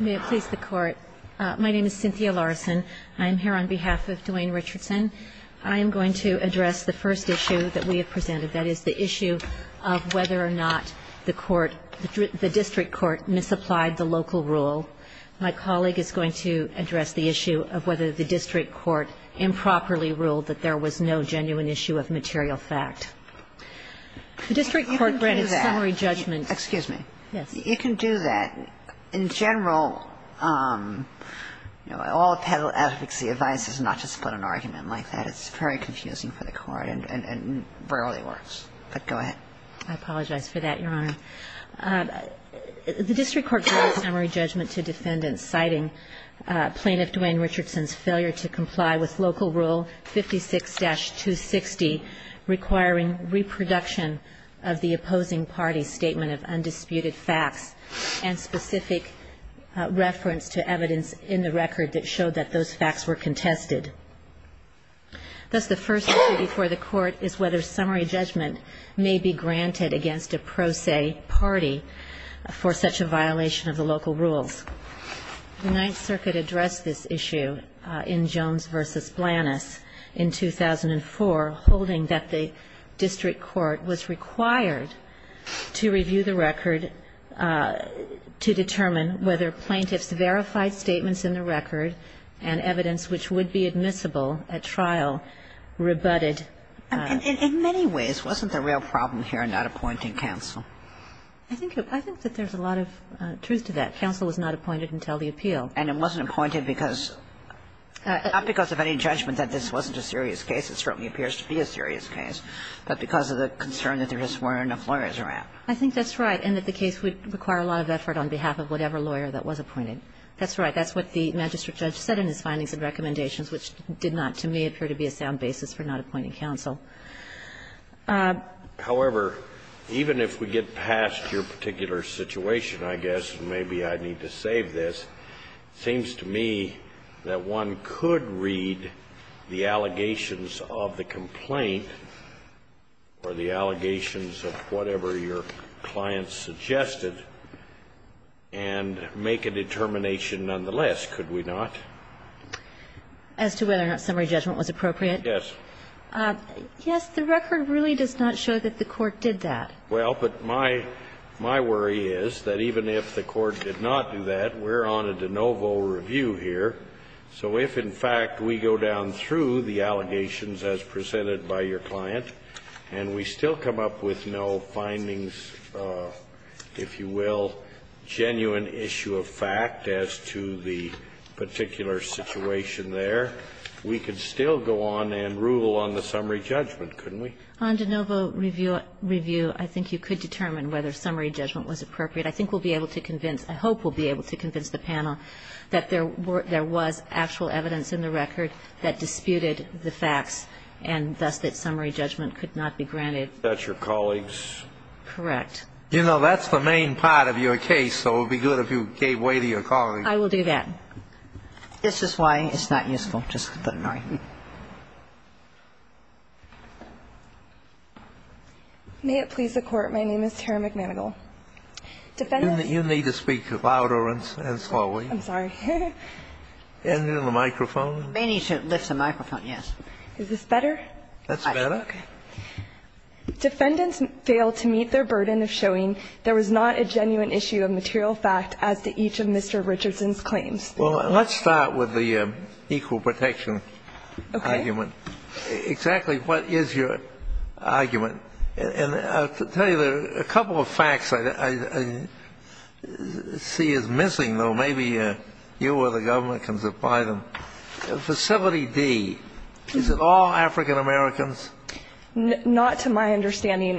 May it please the Court, my name is Cynthia Larson, I'm here on behalf of Dwayne Richardson. I am going to address the first issue that we have presented, that is, the issue of whether or not the court, the district court, misapplied the local rule. My colleague is going to address the issue of whether the district court improperly ruled that there was no genuine issue of material fact. The district court granted summary judgment. Excuse me, you can do that, in general, you know, all appellate advocacy advises not to split an argument like that, it's very confusing for the court and rarely works, but go ahead. I apologize for that, Your Honor. The district court granted summary judgment to defendants citing plaintiff Dwayne Richardson's failure to comply with local rule 56-260 requiring reproduction of the opposing party's statement of undisputed facts and specific reference to evidence in the record that showed that those facts were contested. Thus, the first issue before the court is whether summary judgment may be granted against a pro se party for such a violation of the local rules. The Ninth Circuit addressed this issue in Jones v. Blanus in 2004, holding that the district court was required to review the record to determine whether plaintiffs' verified statements in the record and evidence which would be admissible at trial rebutted. And in many ways, wasn't the real problem here not appointing counsel? I think that there's a lot of truth to that. Counsel was not appointed until the appeal. And it wasn't appointed because of any judgment that this wasn't a serious case. It certainly appears to be a serious case, but because of the concern that there just weren't enough lawyers around. I think that's right, and that the case would require a lot of effort on behalf of whatever lawyer that was appointed. That's right. That's what the magistrate judge said in his findings and recommendations, which did not, to me, appear to be a sound basis for not appointing counsel. However, even if we get past your particular situation, I guess, maybe I need to save this, seems to me that one could read the allegations of the complaint, or the allegations of whatever your client suggested, and make a determination nonetheless, could we not? As to whether or not summary judgment was appropriate? Yes. Yes, the record really does not show that the court did that. Well, but my worry is that even if the court did not do that, we're on a de novo review here. So if, in fact, we go down through the allegations as presented by your client, and we still come up with no findings, if you will, genuine issue of fact as to the particular situation there, we could still go on and rule on the summary judgment, couldn't we? On de novo review, I think you could determine whether summary judgment was appropriate. I think we'll be able to convince, I hope we'll be able to convince the panel that there was actual evidence in the record that disputed the facts, and thus that summary judgment could not be granted. That's your colleagues? Correct. You know, that's the main part of your case, so it would be good if you gave way to your colleagues. I will do that. This is why it's not useful. Just let me know. May it please the Court, my name is Tara McManigal. Defendants You need to speak louder and slowly. I'm sorry. Ending the microphone. We may need to lift the microphone, yes. Is this better? That's better. Defendants failed to meet their burden of showing there was not a genuine issue of material fact as to each of Mr. Richardson's claims. Well, let's start with the equal protection argument. Exactly what is your argument? And I'll tell you a couple of facts I see as missing, though maybe you or the government can supply them. Facility D, is it all African-Americans? Not to my understanding.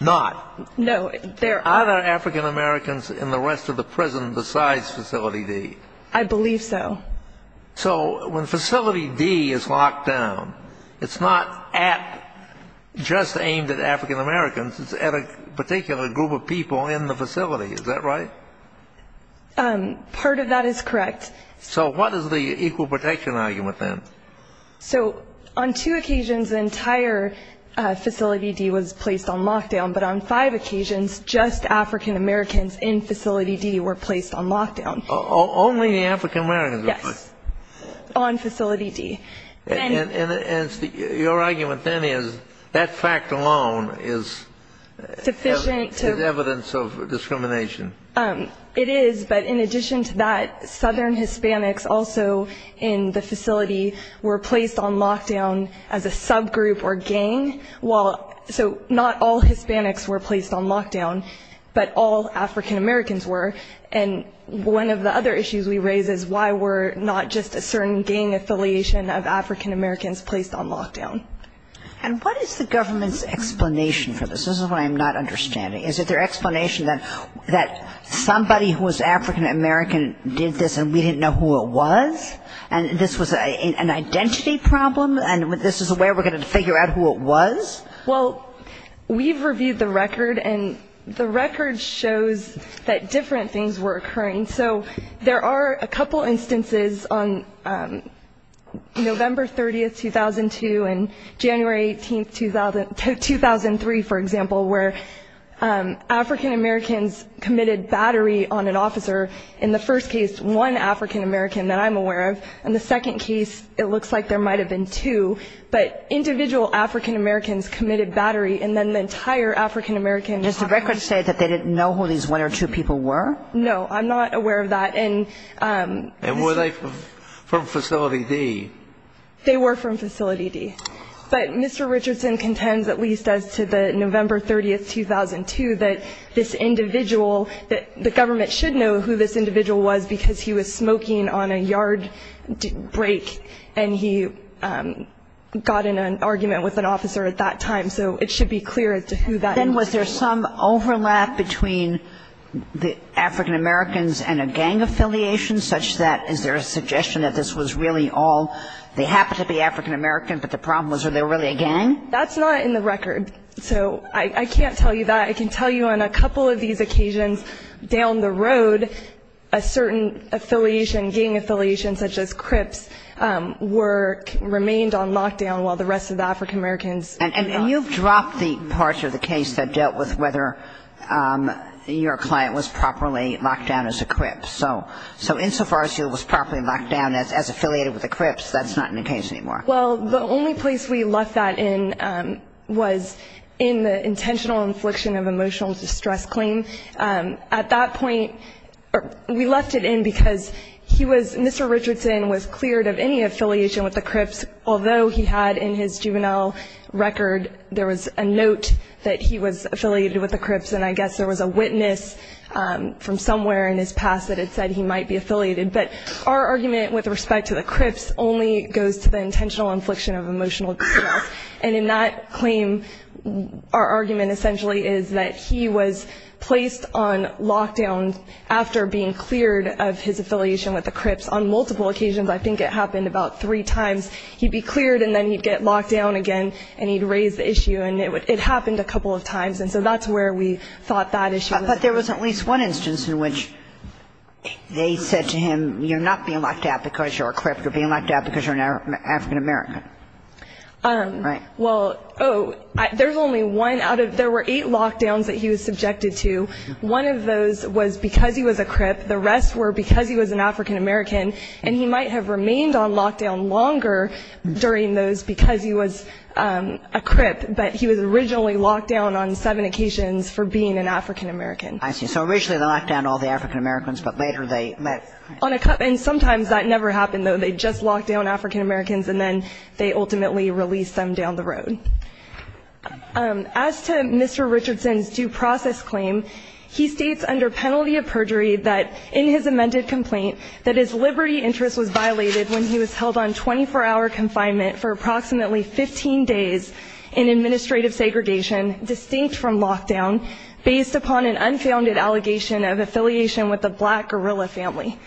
Not? No. Are there African-Americans in the rest of the prison besides Facility D? I believe so. So when Facility D is locked down, it's not just aimed at African-Americans, it's at a particular group of people in the facility, is that right? Part of that is correct. So what is the equal protection argument then? So on two occasions the entire Facility D was placed on lockdown, but on five occasions just African-Americans in Facility D were placed on lockdown. Only the African-Americans were placed? Yes, on Facility D. And your argument then is that fact alone is evidence of discrimination. It is, but in addition to that, Southern Hispanics also in the facility were placed on lockdown as a subgroup or gang, so not all Hispanics were placed on lockdown, but all African-Americans were. And one of the other issues we raise is why were not just a certain gang affiliation of African-Americans placed on lockdown? And what is the government's explanation for this? This is what I'm not understanding. Is it their explanation that somebody who was African-American did this and we didn't know who it was? And this was an identity problem and this is a way we're going to figure out who it was? Well, we've reviewed the record and the record shows that different things were occurring. So there are a couple instances on November 30, 2002 and January 18, 2003, for example, where African-Americans committed battery on an officer. In the first case, one African-American that I'm aware of. In the second case, it looks like there might have been two, but individual African-Americans committed battery and then the entire African-American... Does the record say that they didn't know who these one or two people were? No, I'm not aware of that. And were they from Facility D? They were from Facility D. But Mr. Richardson contends, at least as to the November 30, 2002, that this individual, that the government should know who this individual was because he was smoking on a yard break and he got in an argument with an officer at that time. So it should be clear as to who that individual was. Then was there some overlap between the African-Americans and a gang affiliation such that, is there a suggestion that this was really all, they happen to be African-American, but the problem was are they really a gang? That's not in the record. So I can't tell you that. I can tell you on a couple of these occasions down the road, a certain affiliation, gang affiliation such as Crips, were, remained on lockdown while the rest of the African-Americans... And you've dropped the parts of the case that dealt with whether your client was properly locked down as a Crips. So insofar as he was properly locked down as affiliated with the Crips, that's not in the case anymore. Well, the only place we left that in was in the intentional infliction of emotional distress claim. At that point, we left it in because he was, Mr. Richardson was cleared of any affiliation with the Crips, although he had in his juvenile record, there was a note that he was affiliated with the Crips. And I guess there was a witness from somewhere in his past that had said he might be affiliated. But our argument with respect to the Crips only goes to the intentional infliction of emotional distress. And in that claim, our argument essentially is that he was placed on lockdown after being cleared of his affiliation with the Crips on multiple occasions. I think it happened about three times. He'd be cleared and then he'd get locked down again and he'd raise the issue. And it happened a couple of times. And so that's where we thought that issue was. There was at least one instance in which they said to him, you're not being locked out because you're a Crip. You're being locked out because you're an African-American. Right? Well, oh, there's only one out of – there were eight lockdowns that he was subjected to. One of those was because he was a Crip. The rest were because he was an African-American. And he might have remained on lockdown longer during those because he was a Crip. But he was originally locked down on seven occasions for being an African-American. I see. So originally they locked down all the African-Americans, but later they let – On a – and sometimes that never happened, though. They just locked down African-Americans and then they ultimately released them down the road. As to Mr. Richardson's due process claim, he states under penalty of perjury that in his amended complaint that his liberty interest was violated when he was held on 24-hour confinement for approximately 15 days in administrative segregation distinct from lockdown based upon an unfounded allegation of affiliation with a black guerrilla family.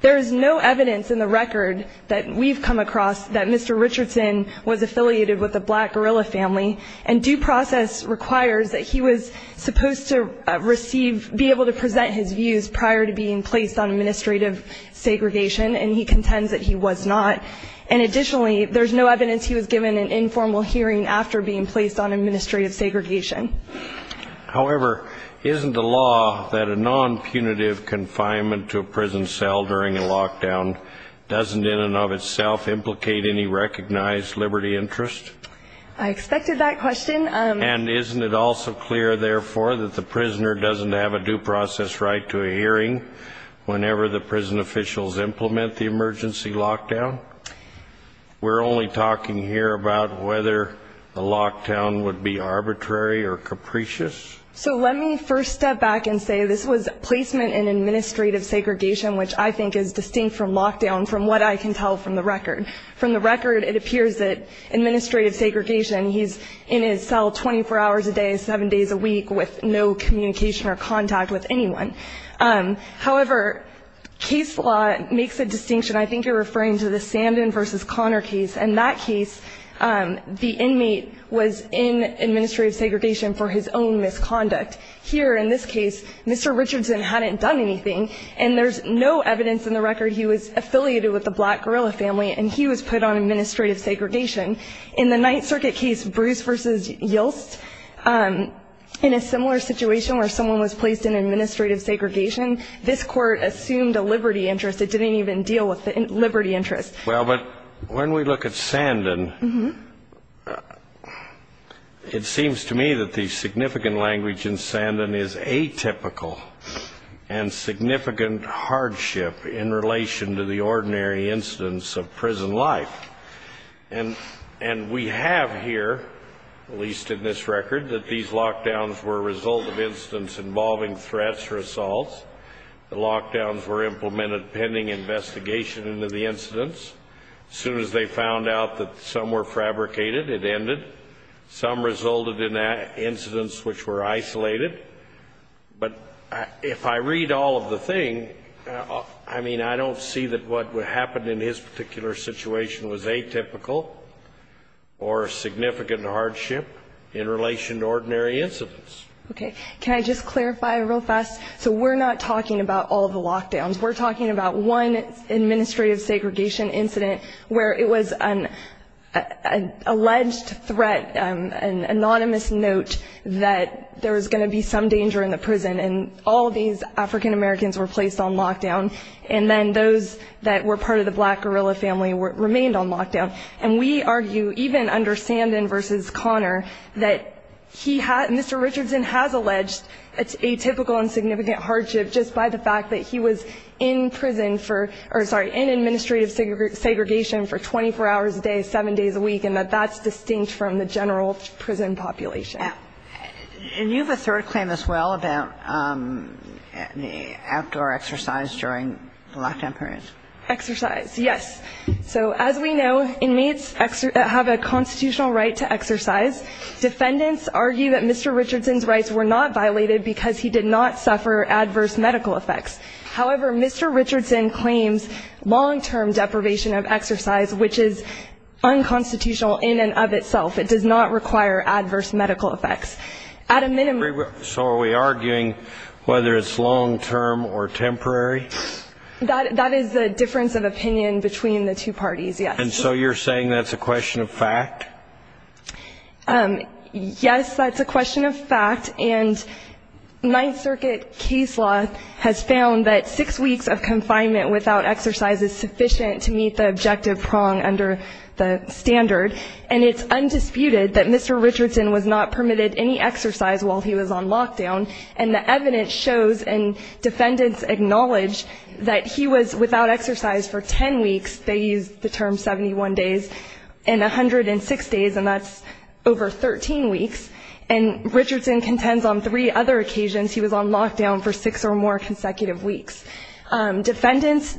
There is no evidence in the record that we've come across that Mr. Richardson was affiliated with a black guerrilla family. And due process requires that he was supposed to receive – be able to present his views prior to being placed on administrative segregation, and he contends that he was not. And additionally, there's no evidence he was given an informal hearing after being placed on administrative segregation. However, isn't the law that a non-punitive confinement to a prison cell during a lockdown doesn't in and of itself implicate any recognized liberty interest? I expected that question. And isn't it also clear, therefore, that the prisoner doesn't have a due process right to a hearing whenever the prison officials implement the emergency lockdown? We're only talking here about whether the lockdown would be arbitrary or capricious? So let me first step back and say this was placement in administrative segregation, which I think is distinct from lockdown from what I can tell from the record. From the record, it appears that administrative segregation, he's in his cell 24 hours a day, seven days a week with no communication or contact with anyone. However, case law makes a distinction. I think you're referring to the Sandin versus Connor case. In that case, the inmate was in administrative segregation for his own misconduct. Here, in this case, Mr. Richardson hadn't done anything, and there's no evidence in the record he was affiliated with the black guerrilla family and he was put on administrative segregation. In the Ninth Circuit case, Bruce versus Yost, in a similar situation where someone was placed in administrative segregation, this court assumed a liberty interest. It didn't even deal with the liberty interest. Well, but when we look at Sandin, it seems to me that the significant language in Sandin is atypical and significant hardship in relation to the ordinary incidents of prison life. And we have here, at least in this record, that these lockdowns were a result of incidents involving threats or assaults. The lockdowns were implemented pending investigation into the incidents. As soon as they found out that some were fabricated, it ended. Some resulted in incidents which were isolated. But if I read all of the thing, I mean, I don't see that what happened in his particular situation was atypical or significant hardship in relation to ordinary incidents. Okay. Can I just clarify real fast? So we're not talking about all of the lockdowns. We're talking about one administrative segregation incident where it was an alleged threat, an anonymous note that there was going to be some danger in the prison. And all of these African-Americans were placed on lockdown. And then those that were part of the black guerrilla family remained on lockdown. And we argue, even under Sandin versus Connor, that he had, Mr. Richardson, he had no atypical and significant hardship just by the fact that he was in prison for, or sorry, in administrative segregation for 24 hours a day, seven days a week. And that that's distinct from the general prison population. And you have a third claim as well about the outdoor exercise during lockdown periods. Exercise. Yes. So as we know, inmates have a constitutional right to exercise. Defendants argue that Mr. Richardson's rights were not violated because he did not suffer adverse medical effects. However, Mr. Richardson claims long-term deprivation of exercise, which is unconstitutional in and of itself. It does not require adverse medical effects at a minimum. So are we arguing whether it's long-term or temporary? That is the difference of opinion between the two parties. Yes. And so you're saying that's a question of fact? Yes, that's a question of fact. And Ninth Circuit case law has found that six weeks of confinement without exercise is sufficient to meet the objective prong under the standard. And it's undisputed that Mr. Richardson was not permitted any exercise while he was on lockdown. And the evidence shows, and defendants acknowledge, that he was without exercise for 10 weeks. They use the term 71 days and 106 days, and that's over 13 weeks. And Richardson contends on three other occasions he was on lockdown for six or more consecutive weeks. Defendants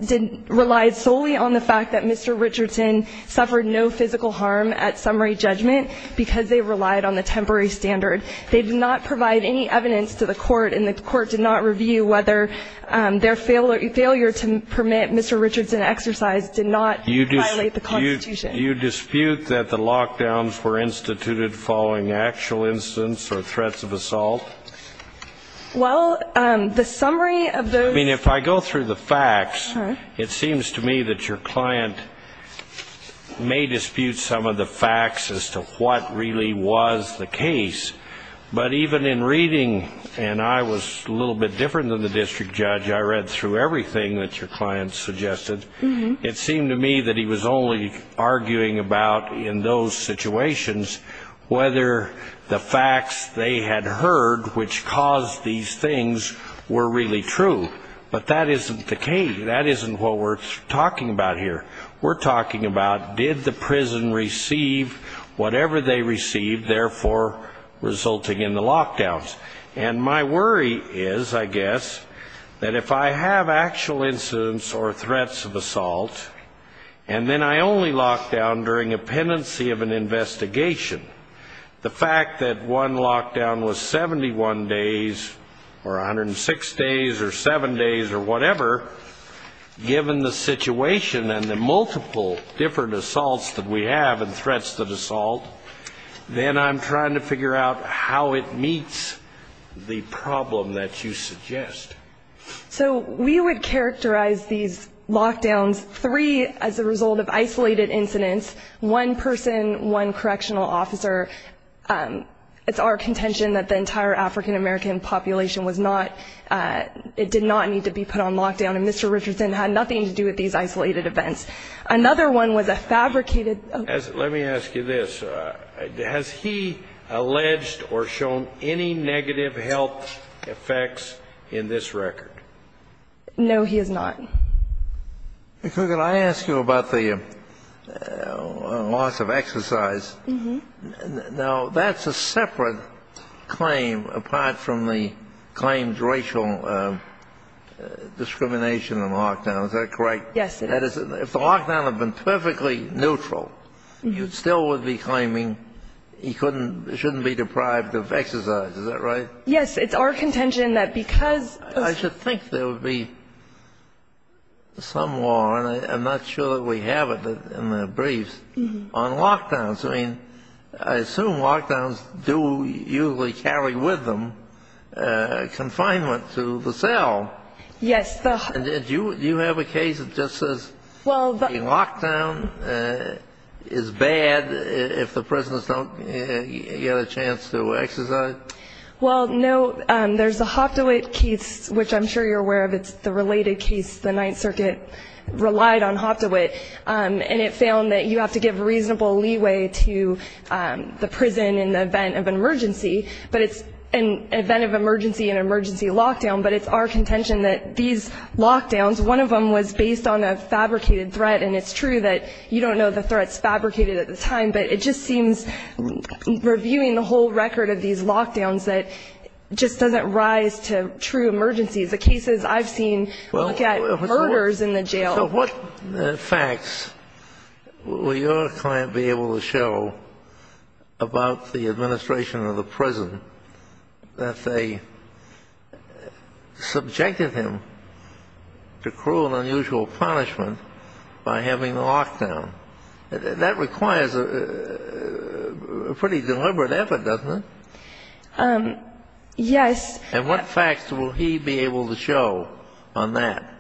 relied solely on the fact that Mr. Richardson suffered no physical harm at summary judgment because they relied on the temporary standard. They did not provide any evidence to the court, and the court did not review whether their failure to permit Mr. Richardson exercise was an excuse to not violate the Constitution. You dispute that the lockdowns were instituted following actual incidents or threats of assault? Well, the summary of those... I mean, if I go through the facts, it seems to me that your client may dispute some of the facts as to what really was the case. But even in reading, and I was a little bit different than the district judge, I read through everything that your client suggested. It seemed to me that he was only arguing about, in those situations, whether the facts they had heard, which caused these things, were really true. But that isn't the case. That isn't what we're talking about here. We're talking about, did the prison receive whatever they received, therefore resulting in the lockdowns? And my worry is, I guess, that if I have actual incidents or threats of assault, and then I only lockdown during a pendency of an investigation, the fact that one lockdown was 71 days, or 106 days, or 7 days, or whatever, given the situation and the multiple different assaults that we have and threats that assault, then I'm trying to figure out how it meets the problem that you suggest. So we would characterize these lockdowns, three as a result of isolated incidents, one person, one correctional officer. It's our contention that the entire African-American population did not need to be put on lockdown, and Mr. Richardson had nothing to do with these isolated events. Another one was a fabricated... Let me ask you this. Has he alleged or shown any negative health effects in this record? No, he has not. Okay, could I ask you about the loss of exercise? Now, that's a separate claim apart from the claimed racial discrimination and lockdown, is that correct? Yes, it is. If the lockdown had been perfectly neutral, you still would be claiming he shouldn't be deprived of exercise, is that right? Yes, it's our contention that because... I should think there would be some law, and I'm not sure that we have it in the briefs, on lockdowns. I mean, I assume lockdowns do usually carry with them confinement to the cell. Yes. Do you have a case that just says the lockdown is bad if the prisoners don't get a chance to exercise? Well, no. There's a Hoftowit case, which I'm sure you're aware of. It's the related case. The Ninth Circuit relied on Hoftowit, and it found that you have to give reasonable leeway to the prison in the event of an emergency, but it's an event of emergency and emergency lockdown. But it's our contention that these lockdowns, one of them was based on a fabricated threat, and it's true that you don't know the threats fabricated at the time, but it just seems reviewing the whole record of these lockdowns that just doesn't rise to true emergencies. The cases I've seen look at murders in the jail. So what facts will your client be able to show about the administration of the prison that they subjected him to cruel and unusual punishment by having a lockdown? That requires a pretty deliberate effort, doesn't it? Yes. And what facts will he be able to show on that?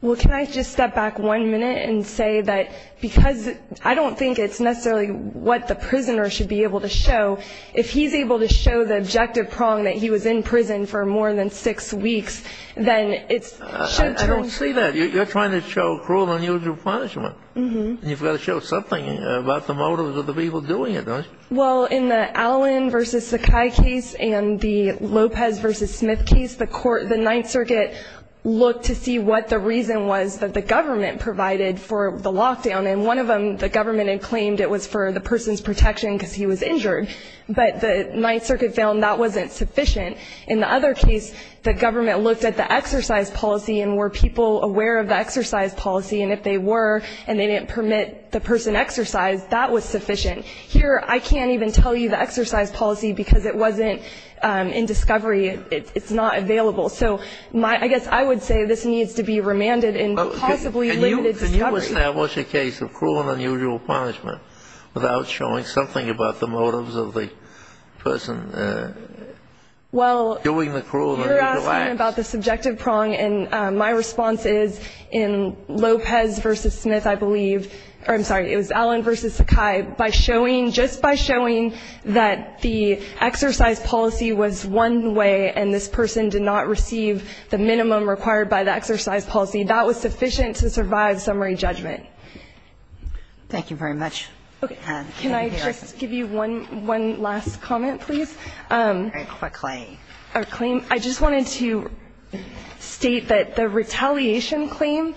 Well, can I just step back one minute and say that because I don't think it's necessarily what the prisoner should be able to show. If he's able to show the objective prong that he was in prison for more than six weeks, then it's... I don't see that. You're trying to show cruel and unusual punishment. You've got to show something about the motives of the people doing it, don't you? Well, in the Allen v. Sakai case and the Lopez v. Smith case, the Ninth Circuit looked to see what the reason was that the government provided for the lockdown. And one of them, the government had claimed it was for the person's protection because he was injured. But the Ninth Circuit found that wasn't sufficient. In the other case, the government looked at the exercise policy and were people aware of the exercise policy. And if they were and they didn't permit the person exercise, that was sufficient. Here, I can't even tell you the exercise policy because it wasn't in discovery. It's not available. So I guess I would say this needs to be remanded in possibly limited discovery. Can you establish a case of cruel and unusual punishment without showing something about the motives of the person doing the cruel and unusual acts? About the subjective prong, and my response is in Lopez v. Smith, I believe, or I'm sorry, it was Allen v. Sakai. By showing, just by showing that the exercise policy was one way and this person did not receive the minimum required by the exercise policy, that was sufficient to survive summary judgment. Thank you very much. Can I just give you one one last comment, please? A claim. A claim. I just wanted to state that the retaliation claim,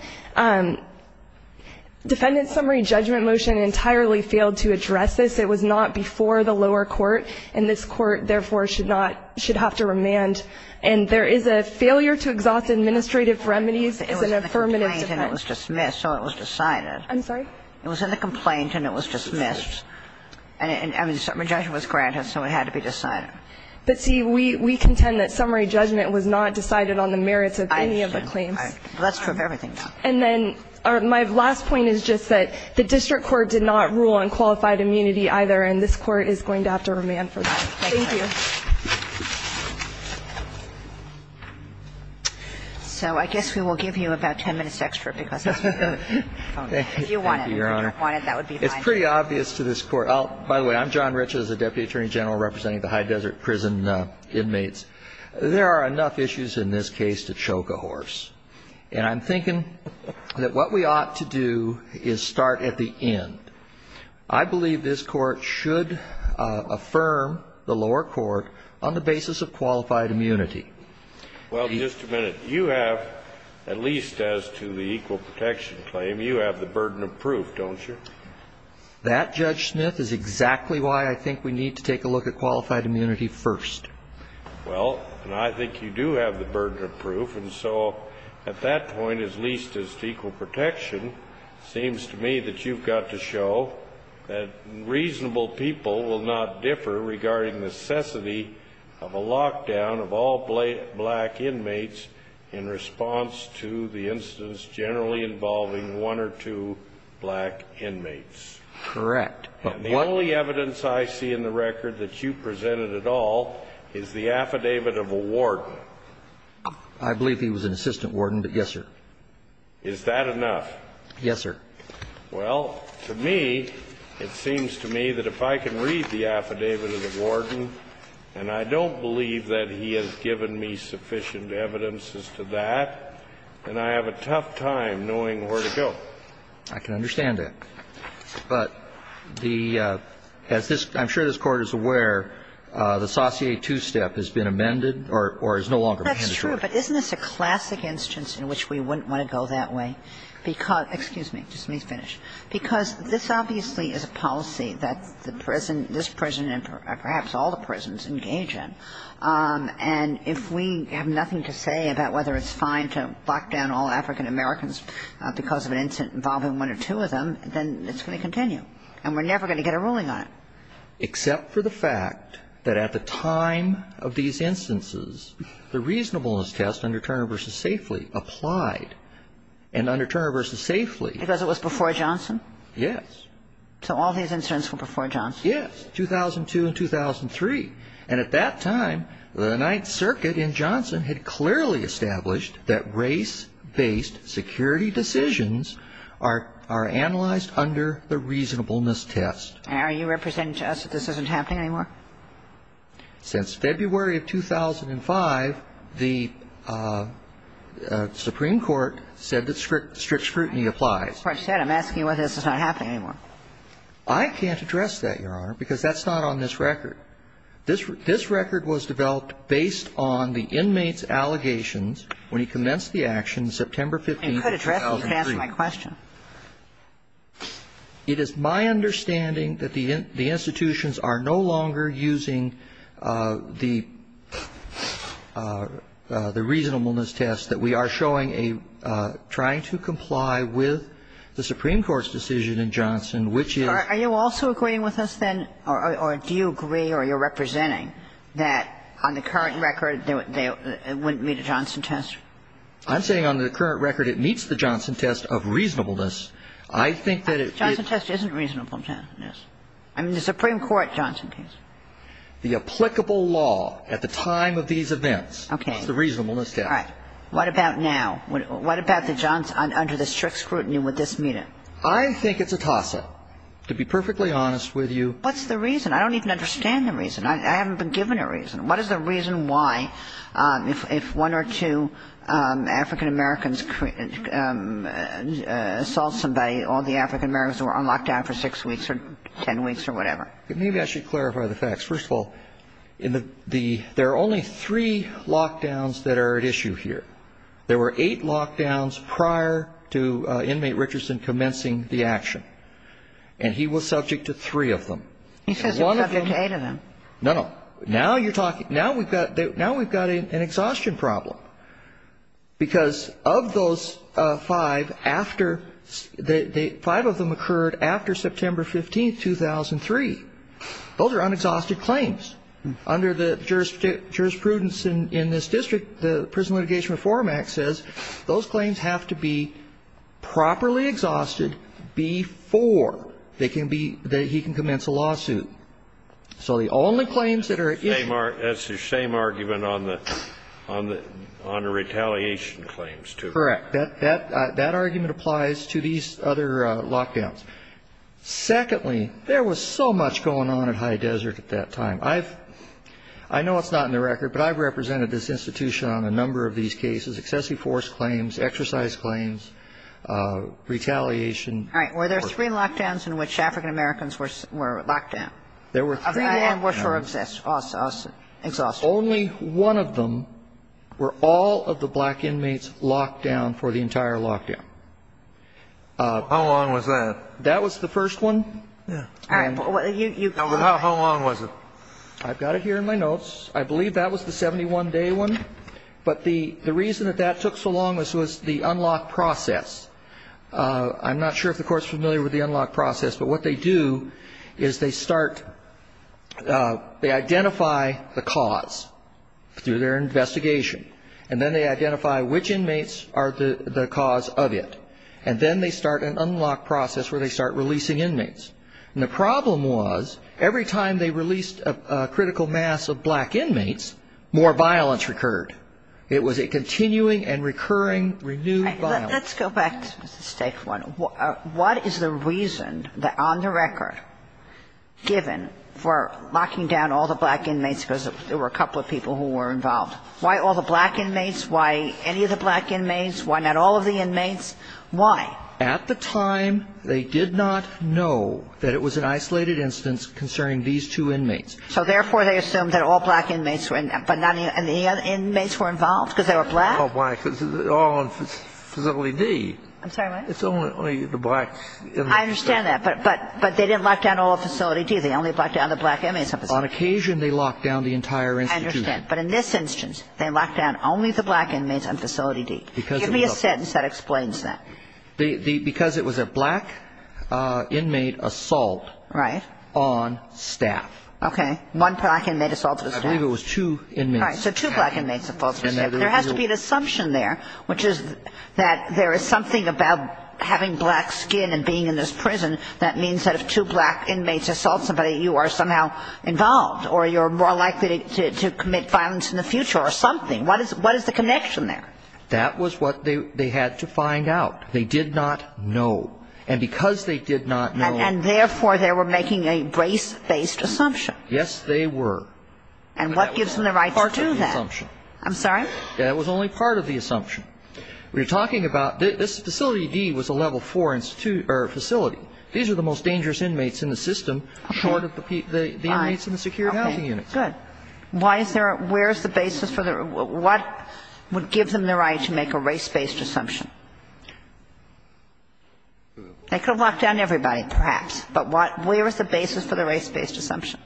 defendant's summary judgment motion entirely failed to address this. It was not before the lower court, and this court, therefore, should not, should have to remand. And there is a failure to exhaust administrative remedies as an affirmative defense. It was in the complaint and it was dismissed, so it was decided. I'm sorry? It was in the complaint and it was dismissed. And the summary judgment was granted, so it had to be decided. But see, we contend that summary judgment was not decided on the merits of any of the claims. I understand. Let's prove everything, though. And then my last point is just that the district court did not rule on qualified immunity either, and this court is going to have to remand for that. Thank you. So I guess we will give you about 10 minutes extra because that's what we're going to do. If you want it, if you don't want it, that would be fine. It's pretty obvious to this court. By the way, I'm John Rich as the Deputy Attorney General representing the high desert prison inmates. There are enough issues in this case to choke a horse. And I'm thinking that what we ought to do is start at the end. I believe this court should affirm the lower court on the basis of qualified immunity. Well, just a minute. You have, at least as to the equal protection claim, you have the burden of proof, don't you? That, Judge Smith, is exactly why I think we need to take a look at qualified immunity first. Well, and I think you do have the burden of proof. And so at that point, as least as to equal protection, it seems to me that you've got to show that reasonable people will not differ regarding necessity of a lockdown of all black inmates in response to the incidents generally involving one or two black inmates. Correct. And the only evidence I see in the record that you presented at all is the affidavit of a warden. I believe he was an assistant warden, but yes, sir. Is that enough? Yes, sir. Well, to me, it seems to me that if I can read the affidavit of the warden, and I don't believe that he has given me sufficient evidence as to that, then I have a tough time knowing where to go. I can understand that. But the – as this – I'm sure this Court is aware, the saucier two-step has been amended or is no longer mandatory. That's true, but isn't this a classic instance in which we wouldn't want to go that way? Because – excuse me, just let me finish. Because this obviously is a policy that the prison – this prison and perhaps all the prisons engage in. And if we have nothing to say about whether it's fine to lock down all African Americans because of an incident involving one or two of them, then it's going to continue. And we're never going to get a ruling on it. Except for the fact that at the time of these instances, the reasonableness test under Turner v. Safely applied. And under Turner v. Safely – Because it was before Johnson? Yes. So all these incidents were before Johnson? Yes. 2002 and 2003. And at that time, the Ninth Circuit in Johnson had clearly established that race-based security decisions are analyzed under the reasonableness test. And are you representing to us that this isn't happening anymore? Since February of 2005, the Supreme Court said that strict scrutiny applies. As I said, I'm asking you whether this is not happening anymore. I can't address that, Your Honor, because that's not on this record. This record was developed based on the inmate's allegations when he commenced the action September 15, 2003. I could address it to answer my question. It is my understanding that the institutions are no longer using the reasonableness test that we are showing a – trying to comply with the Supreme Court's decision in Johnson, which is – Are you also agreeing with us, then, or do you agree or you're representing that on the current record, it wouldn't meet a Johnson test? I'm saying on the current record, it meets the Johnson test of reasonableness. I think that it – Johnson test isn't a reasonableness test. I mean, the Supreme Court Johnson test. The applicable law at the time of these events is the reasonableness test. What about now? What about the Johnson – under the strict scrutiny, would this meet it? I think it's a toss-up, to be perfectly honest with you. What's the reason? I don't even understand the reason. I haven't been given a reason. What is the reason why, if one or two African Americans assault somebody, all the African Americans are on lockdown for six weeks or ten weeks or whatever? Maybe I should clarify the facts. First of all, in the – there are only three lockdowns that are at issue here. There were eight lockdowns prior to inmate Richardson commencing the action, and he was subject to three of them. He says he was subject to eight of them. No, no. Now you're talking – now we've got – now we've got an exhaustion problem, because of those five, after – the five of them occurred after September 15, 2003. Those are unexhausted claims. Under the jurisprudence in this district, the Prison Litigation Reform Act says those claims have to be properly exhausted before they can be – that he can commence a lawsuit. So the only claims that are at issue – That's the same argument on the – on the retaliation claims, too. Correct. That argument applies to these other lockdowns. Secondly, there was so much going on at High Desert at that time. I've – I know it's not in the record, but I've represented this institution on a number of these cases, excessive force claims, exercise claims, retaliation. All right. Were there three lockdowns in which African Americans were locked down? There were three lockdowns. And were – were exhausted. Only one of them were all of the black inmates locked down for the entire lockdown. How long was that? That was the first one. And how long was it? I've got it here in my notes. I believe that was the 71-day one. But the reason that that took so long was the unlock process. I'm not sure if the Court's familiar with the unlock process. But what they do is they start – they identify the cause through their investigation. And then they identify which inmates are the cause of it. And then they start an unlock process where they start releasing inmates. And the problem was, every time they released a critical mass of black inmates, more violence recurred. It was a continuing and recurring, renewed violence. Let's go back to the state one. What is the reason that, on the record, given for locking down all the black inmates – because there were a couple of people who were involved – why all the black inmates? Why any of the black inmates? Why not all of the inmates? Why? At the time, they did not know that it was an isolated instance concerning these two inmates. So, therefore, they assumed that all black inmates were – but not – and the inmates were involved because they were black? All black. All in Facility D. I'm sorry, what? It's only the black inmates. I understand that. But they didn't lock down all of Facility D. They only locked down the black inmates in Facility D. On occasion, they locked down the entire institution. I understand. But in this instance, they locked down only the black inmates in Facility D. Give me a sentence that explains that. Because it was a black inmate assault. Right. On staff. Okay. One black inmate assault on staff. I believe it was two inmates. Right. So two black inmates assaulted staff. There has to be an assumption there, which is that there is something about having black skin and being in this prison that means that if two black inmates assault somebody, you are somehow involved, or you're more likely to commit violence in the future, or something. What is the connection there? That was what they had to find out. They did not know. And because they did not know And therefore, they were making a race-based assumption. Yes, they were. And what gives them the right to do that? I'm sorry? That was only part of the assumption. We're talking about this Facility D was a Level 4 facility. These are the most dangerous inmates in the system, short of the inmates in the security housing unit. Why is there a – where is the basis for the – what would give them the right to make a race-based assumption? They could have locked down everybody, perhaps. But what – where is the basis for the race-based assumption?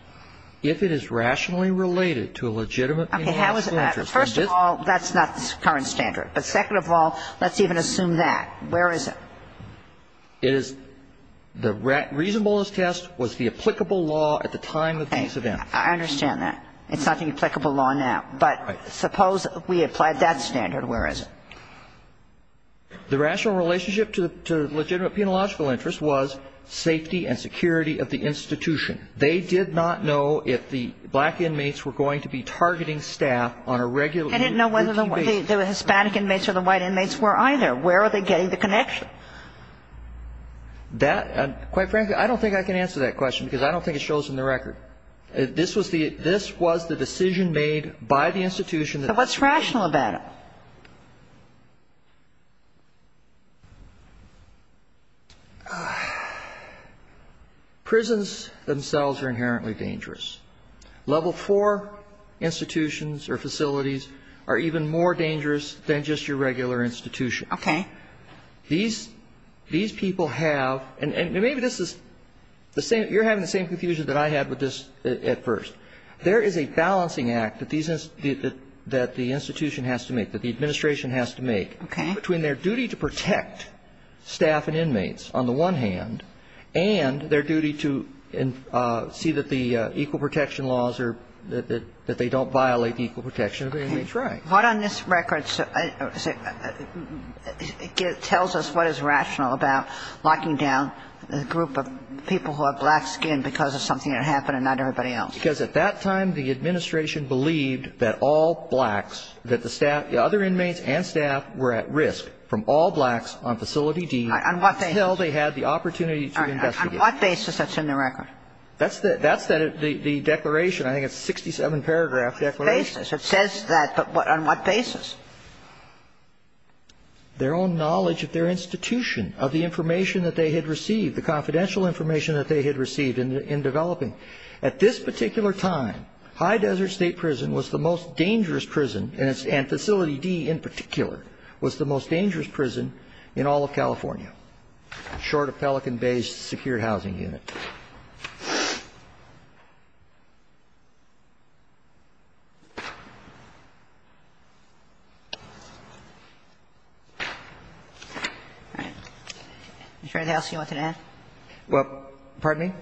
If it is rationally related to a legitimate inmate assault. Okay. How is it – first of all, that's not the current standard. But second of all, let's even assume that. Where is it? It is – the reasonableness test was the applicable law at the time of these events. I understand that. It's not the applicable law now. But suppose we applied that standard. Where is it? The rational relationship to legitimate penological interest was safety and security of the institution. They did not know if the black inmates were going to be targeting staff on a regular routine basis. They didn't know whether the Hispanic inmates or the white inmates were either. Where are they getting the connection? That – quite frankly, I don't think I can answer that question because I don't think it shows in the record. This was the – this was the decision made by the institution that – So what's rational about it? Prisons themselves are inherently dangerous. Level IV institutions or facilities are even more dangerous than just your regular institution. Okay. These people have – and maybe this is the same – you're having the same confusion that I had with this at first. There is a balancing act that these – that the institution has to make, that the administration has to make between their duty to protect staff and inmates on the one hand and their duty to see that the equal protection laws are – that they don't violate the equal protection of the inmates. Right. What on this record tells us what is rational about locking down a group of people who have black skin because of something that happened and not everybody else? Because at that time, the administration believed that all blacks, that the staff – the other inmates and staff were at risk from all blacks on facility D until they had the opportunity to investigate. On what basis that's in the record? That's the – that's the declaration. I think it's a 67-paragraph declaration. It says that, but what – on what basis? Their own knowledge of their institution, of the information that they had received, the confidential information that they had received in developing. At this particular time, High Desert State Prison was the most dangerous prison, and facility D in particular, was the most dangerous prison in all of California, short of Pelican Bay's secured housing unit. All right. Is there anything else you want to add? Well, pardon me?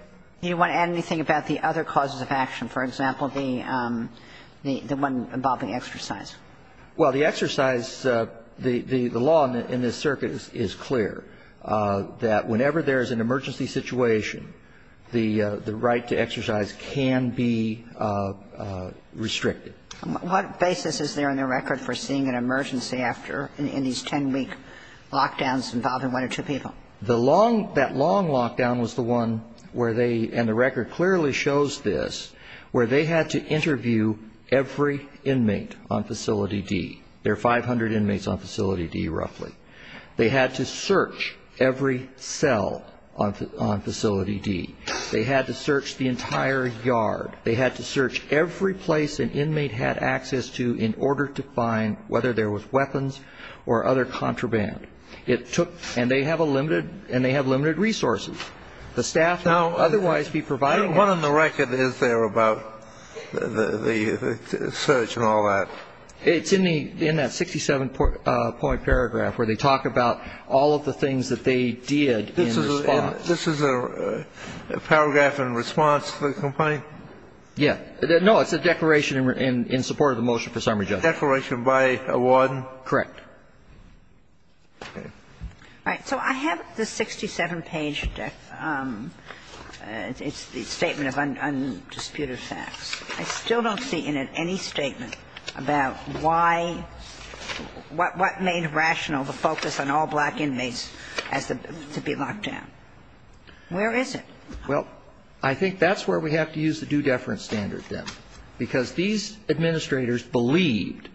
Do you want to add anything about the other causes of action, for example, the – the one involving exercise? Well, the exercise – the law in this circuit is clear, that whenever there is an emergency situation, the – the right to exercise can be restricted. What basis is there in the record for seeing an emergency after – in these 10-week lockdowns involving one or two people? The long – that long lockdown was the one where they – and the record clearly shows this – where they had to interview every inmate on facility D. There are 500 inmates on facility D, roughly. They had to search every cell on facility D. They had to search the entire yard. They had to search every place an inmate had access to in order to find whether there was weapons or other contraband. It took – and they have a limited – and they have limited resources. The staff now otherwise be providing – What on the record is there about the – the search and all that? It's in the – in that 67-point paragraph where they talk about all of the things that they did in response. This is a – this is a paragraph in response to the complaint? Yeah. No, it's a declaration in support of the motion for summary judgment. Declaration by a warden? Correct. Okay. All right. So I have the 67-page – it's the statement of undisputed facts. I still don't see in it any statement about why – what made rational the focus on all black inmates as to be locked down. Where is it? Well, I think that's where we have to use the due deference standard, then. Because these administrators believed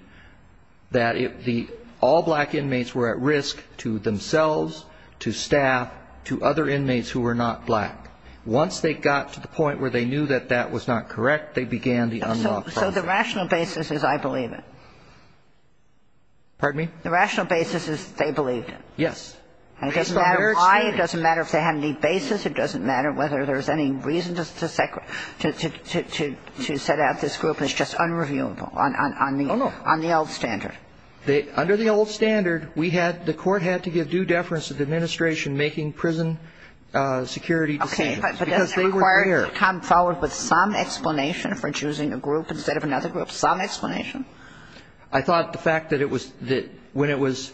that if the – all black inmates were at risk to themselves, to staff, to other inmates who were not black. Once they got to the point where they knew that that was not correct, they began the unlock process. So the rational basis is I believe it? Pardon me? The rational basis is they believed it? Yes. And it doesn't matter why. It doesn't matter if they had any basis. It doesn't matter whether there's any reason to – to set out this group. It's just unreviewable on the old standard. Under the old standard, we had – the court had to give due deference to the administration making prison security decisions because they were there. Or come forward with some explanation for choosing a group instead of another group, some explanation? I thought the fact that it was – that when it was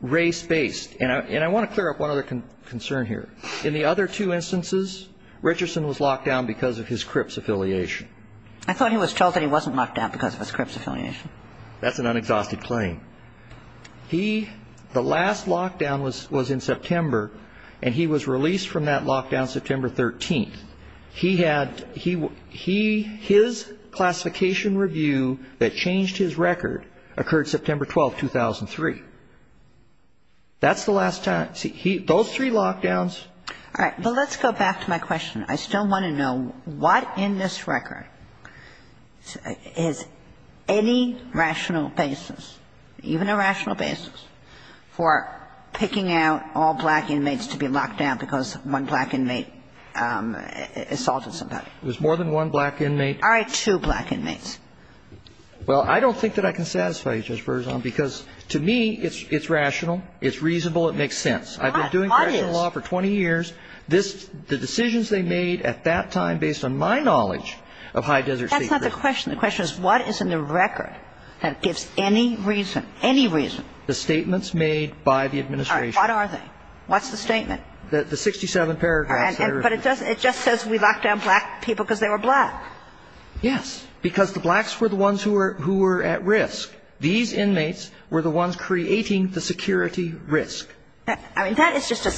race-based – and I want to clear up one other concern here. In the other two instances, Richardson was locked down because of his CRIPS affiliation. I thought he was told that he wasn't locked down because of his CRIPS affiliation. That's an unexhausted claim. He – the last lockdown was in September, and he was – he had – he – his classification review that changed his record occurred September 12, 2003. That's the last time – see, he – those three lockdowns – All right. Well, let's go back to my question. I still want to know what in this record is any rational basis, even a rational basis, for picking out all black inmates to be locked down because one black inmate assaulted somebody? There's more than one black inmate. Are there two black inmates? Well, I don't think that I can satisfy you, Judge Berzon, because to me, it's rational, it's reasonable, it makes sense. I've been doing prison law for 20 years. This – the decisions they made at that time, based on my knowledge of high desert state prisons – That's not the question. The question is, what is in the record that gives any reason – any reason – The statements made by the administration. All right. What are they? What's the statement? The 67 paragraphs that are – But it doesn't – it just says we locked down black people because they were black. Yes. Because the blacks were the ones who were – who were at risk. These inmates were the ones creating the security risk. I mean, that is just a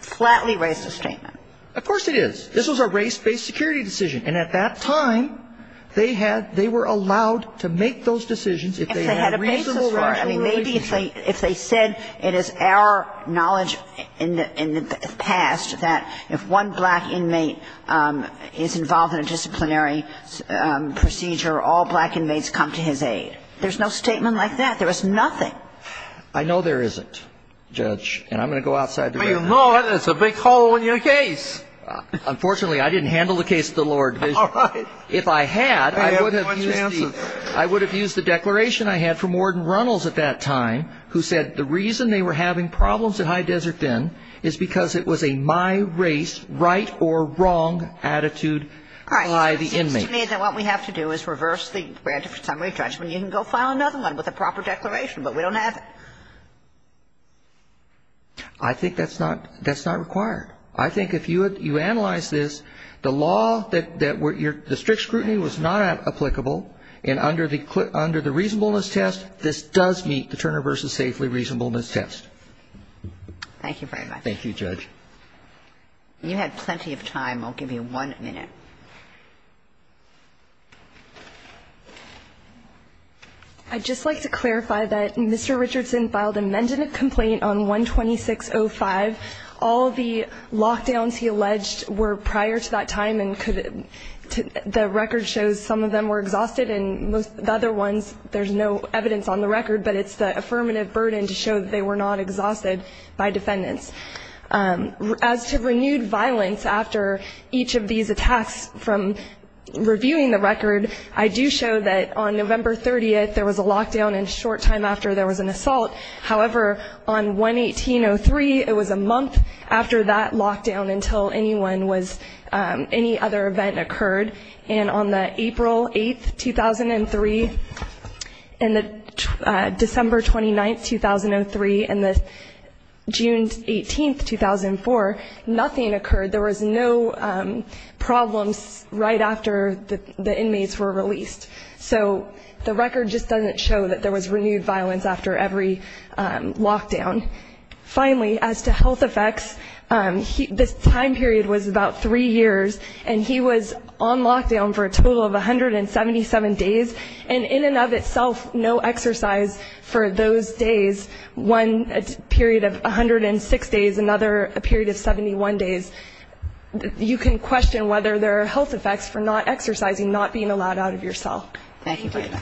flatly racist statement. Of course it is. This was a race-based security decision. And at that time, they had – they were allowed to make those decisions if they had a reasonable – I mean, maybe if they – if they said it is our knowledge in the past that if one black inmate is involved in a disciplinary procedure, all black inmates come to his aid. There's no statement like that. There is nothing. I know there isn't, Judge. And I'm going to go outside the – Well, you know it. It's a big hole in your case. Unfortunately, I didn't handle the case to the lower division. All right. If I had, I would have used the – who said the reason they were having problems at High Desert then is because it was a my race, right or wrong attitude by the inmate. All right. So it seems to me that what we have to do is reverse the granted summary judgment. You can go file another one with a proper declaration, but we don't have it. I think that's not – that's not required. I think if you – you analyze this, the law that were – the strict scrutiny was not applicable. And under the – under the reasonableness test, this does meet the Turner v. Safely reasonableness test. Thank you very much. Thank you, Judge. You had plenty of time. I'll give you one minute. I'd just like to clarify that Mr. Richardson filed a mandative complaint on 12605. All the lockdowns he alleged were prior to that time and could – the record shows some of them were exhausted and most – the other ones, there's no evidence on the record, but it's the affirmative burden to show that they were not exhausted by defendants. As to renewed violence after each of these attacks from reviewing the record, I do show that on November 30th, there was a lockdown in short time after there was an assault. However, on 11803, it was a month after that lockdown until anyone was – any other event occurred. And on the April 8th, 2003, and the December 29th, 2003, and the June 18th, 2004, nothing occurred. There was no problems right after the inmates were released. So the record just doesn't show that there was renewed violence after every lockdown. Finally, as to health effects, this time period was about three years, and he was on lockdown for a total of 177 days, and in and of itself, no exercise for those days, one period of 106 days, another a period of 71 days. You can question whether there are health effects for not exercising, not being allowed out of your cell. Thank you very much.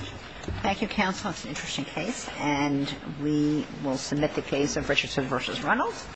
Thank you, counsel. It's an interesting case, and we will submit the case of Richardson v. Reynolds.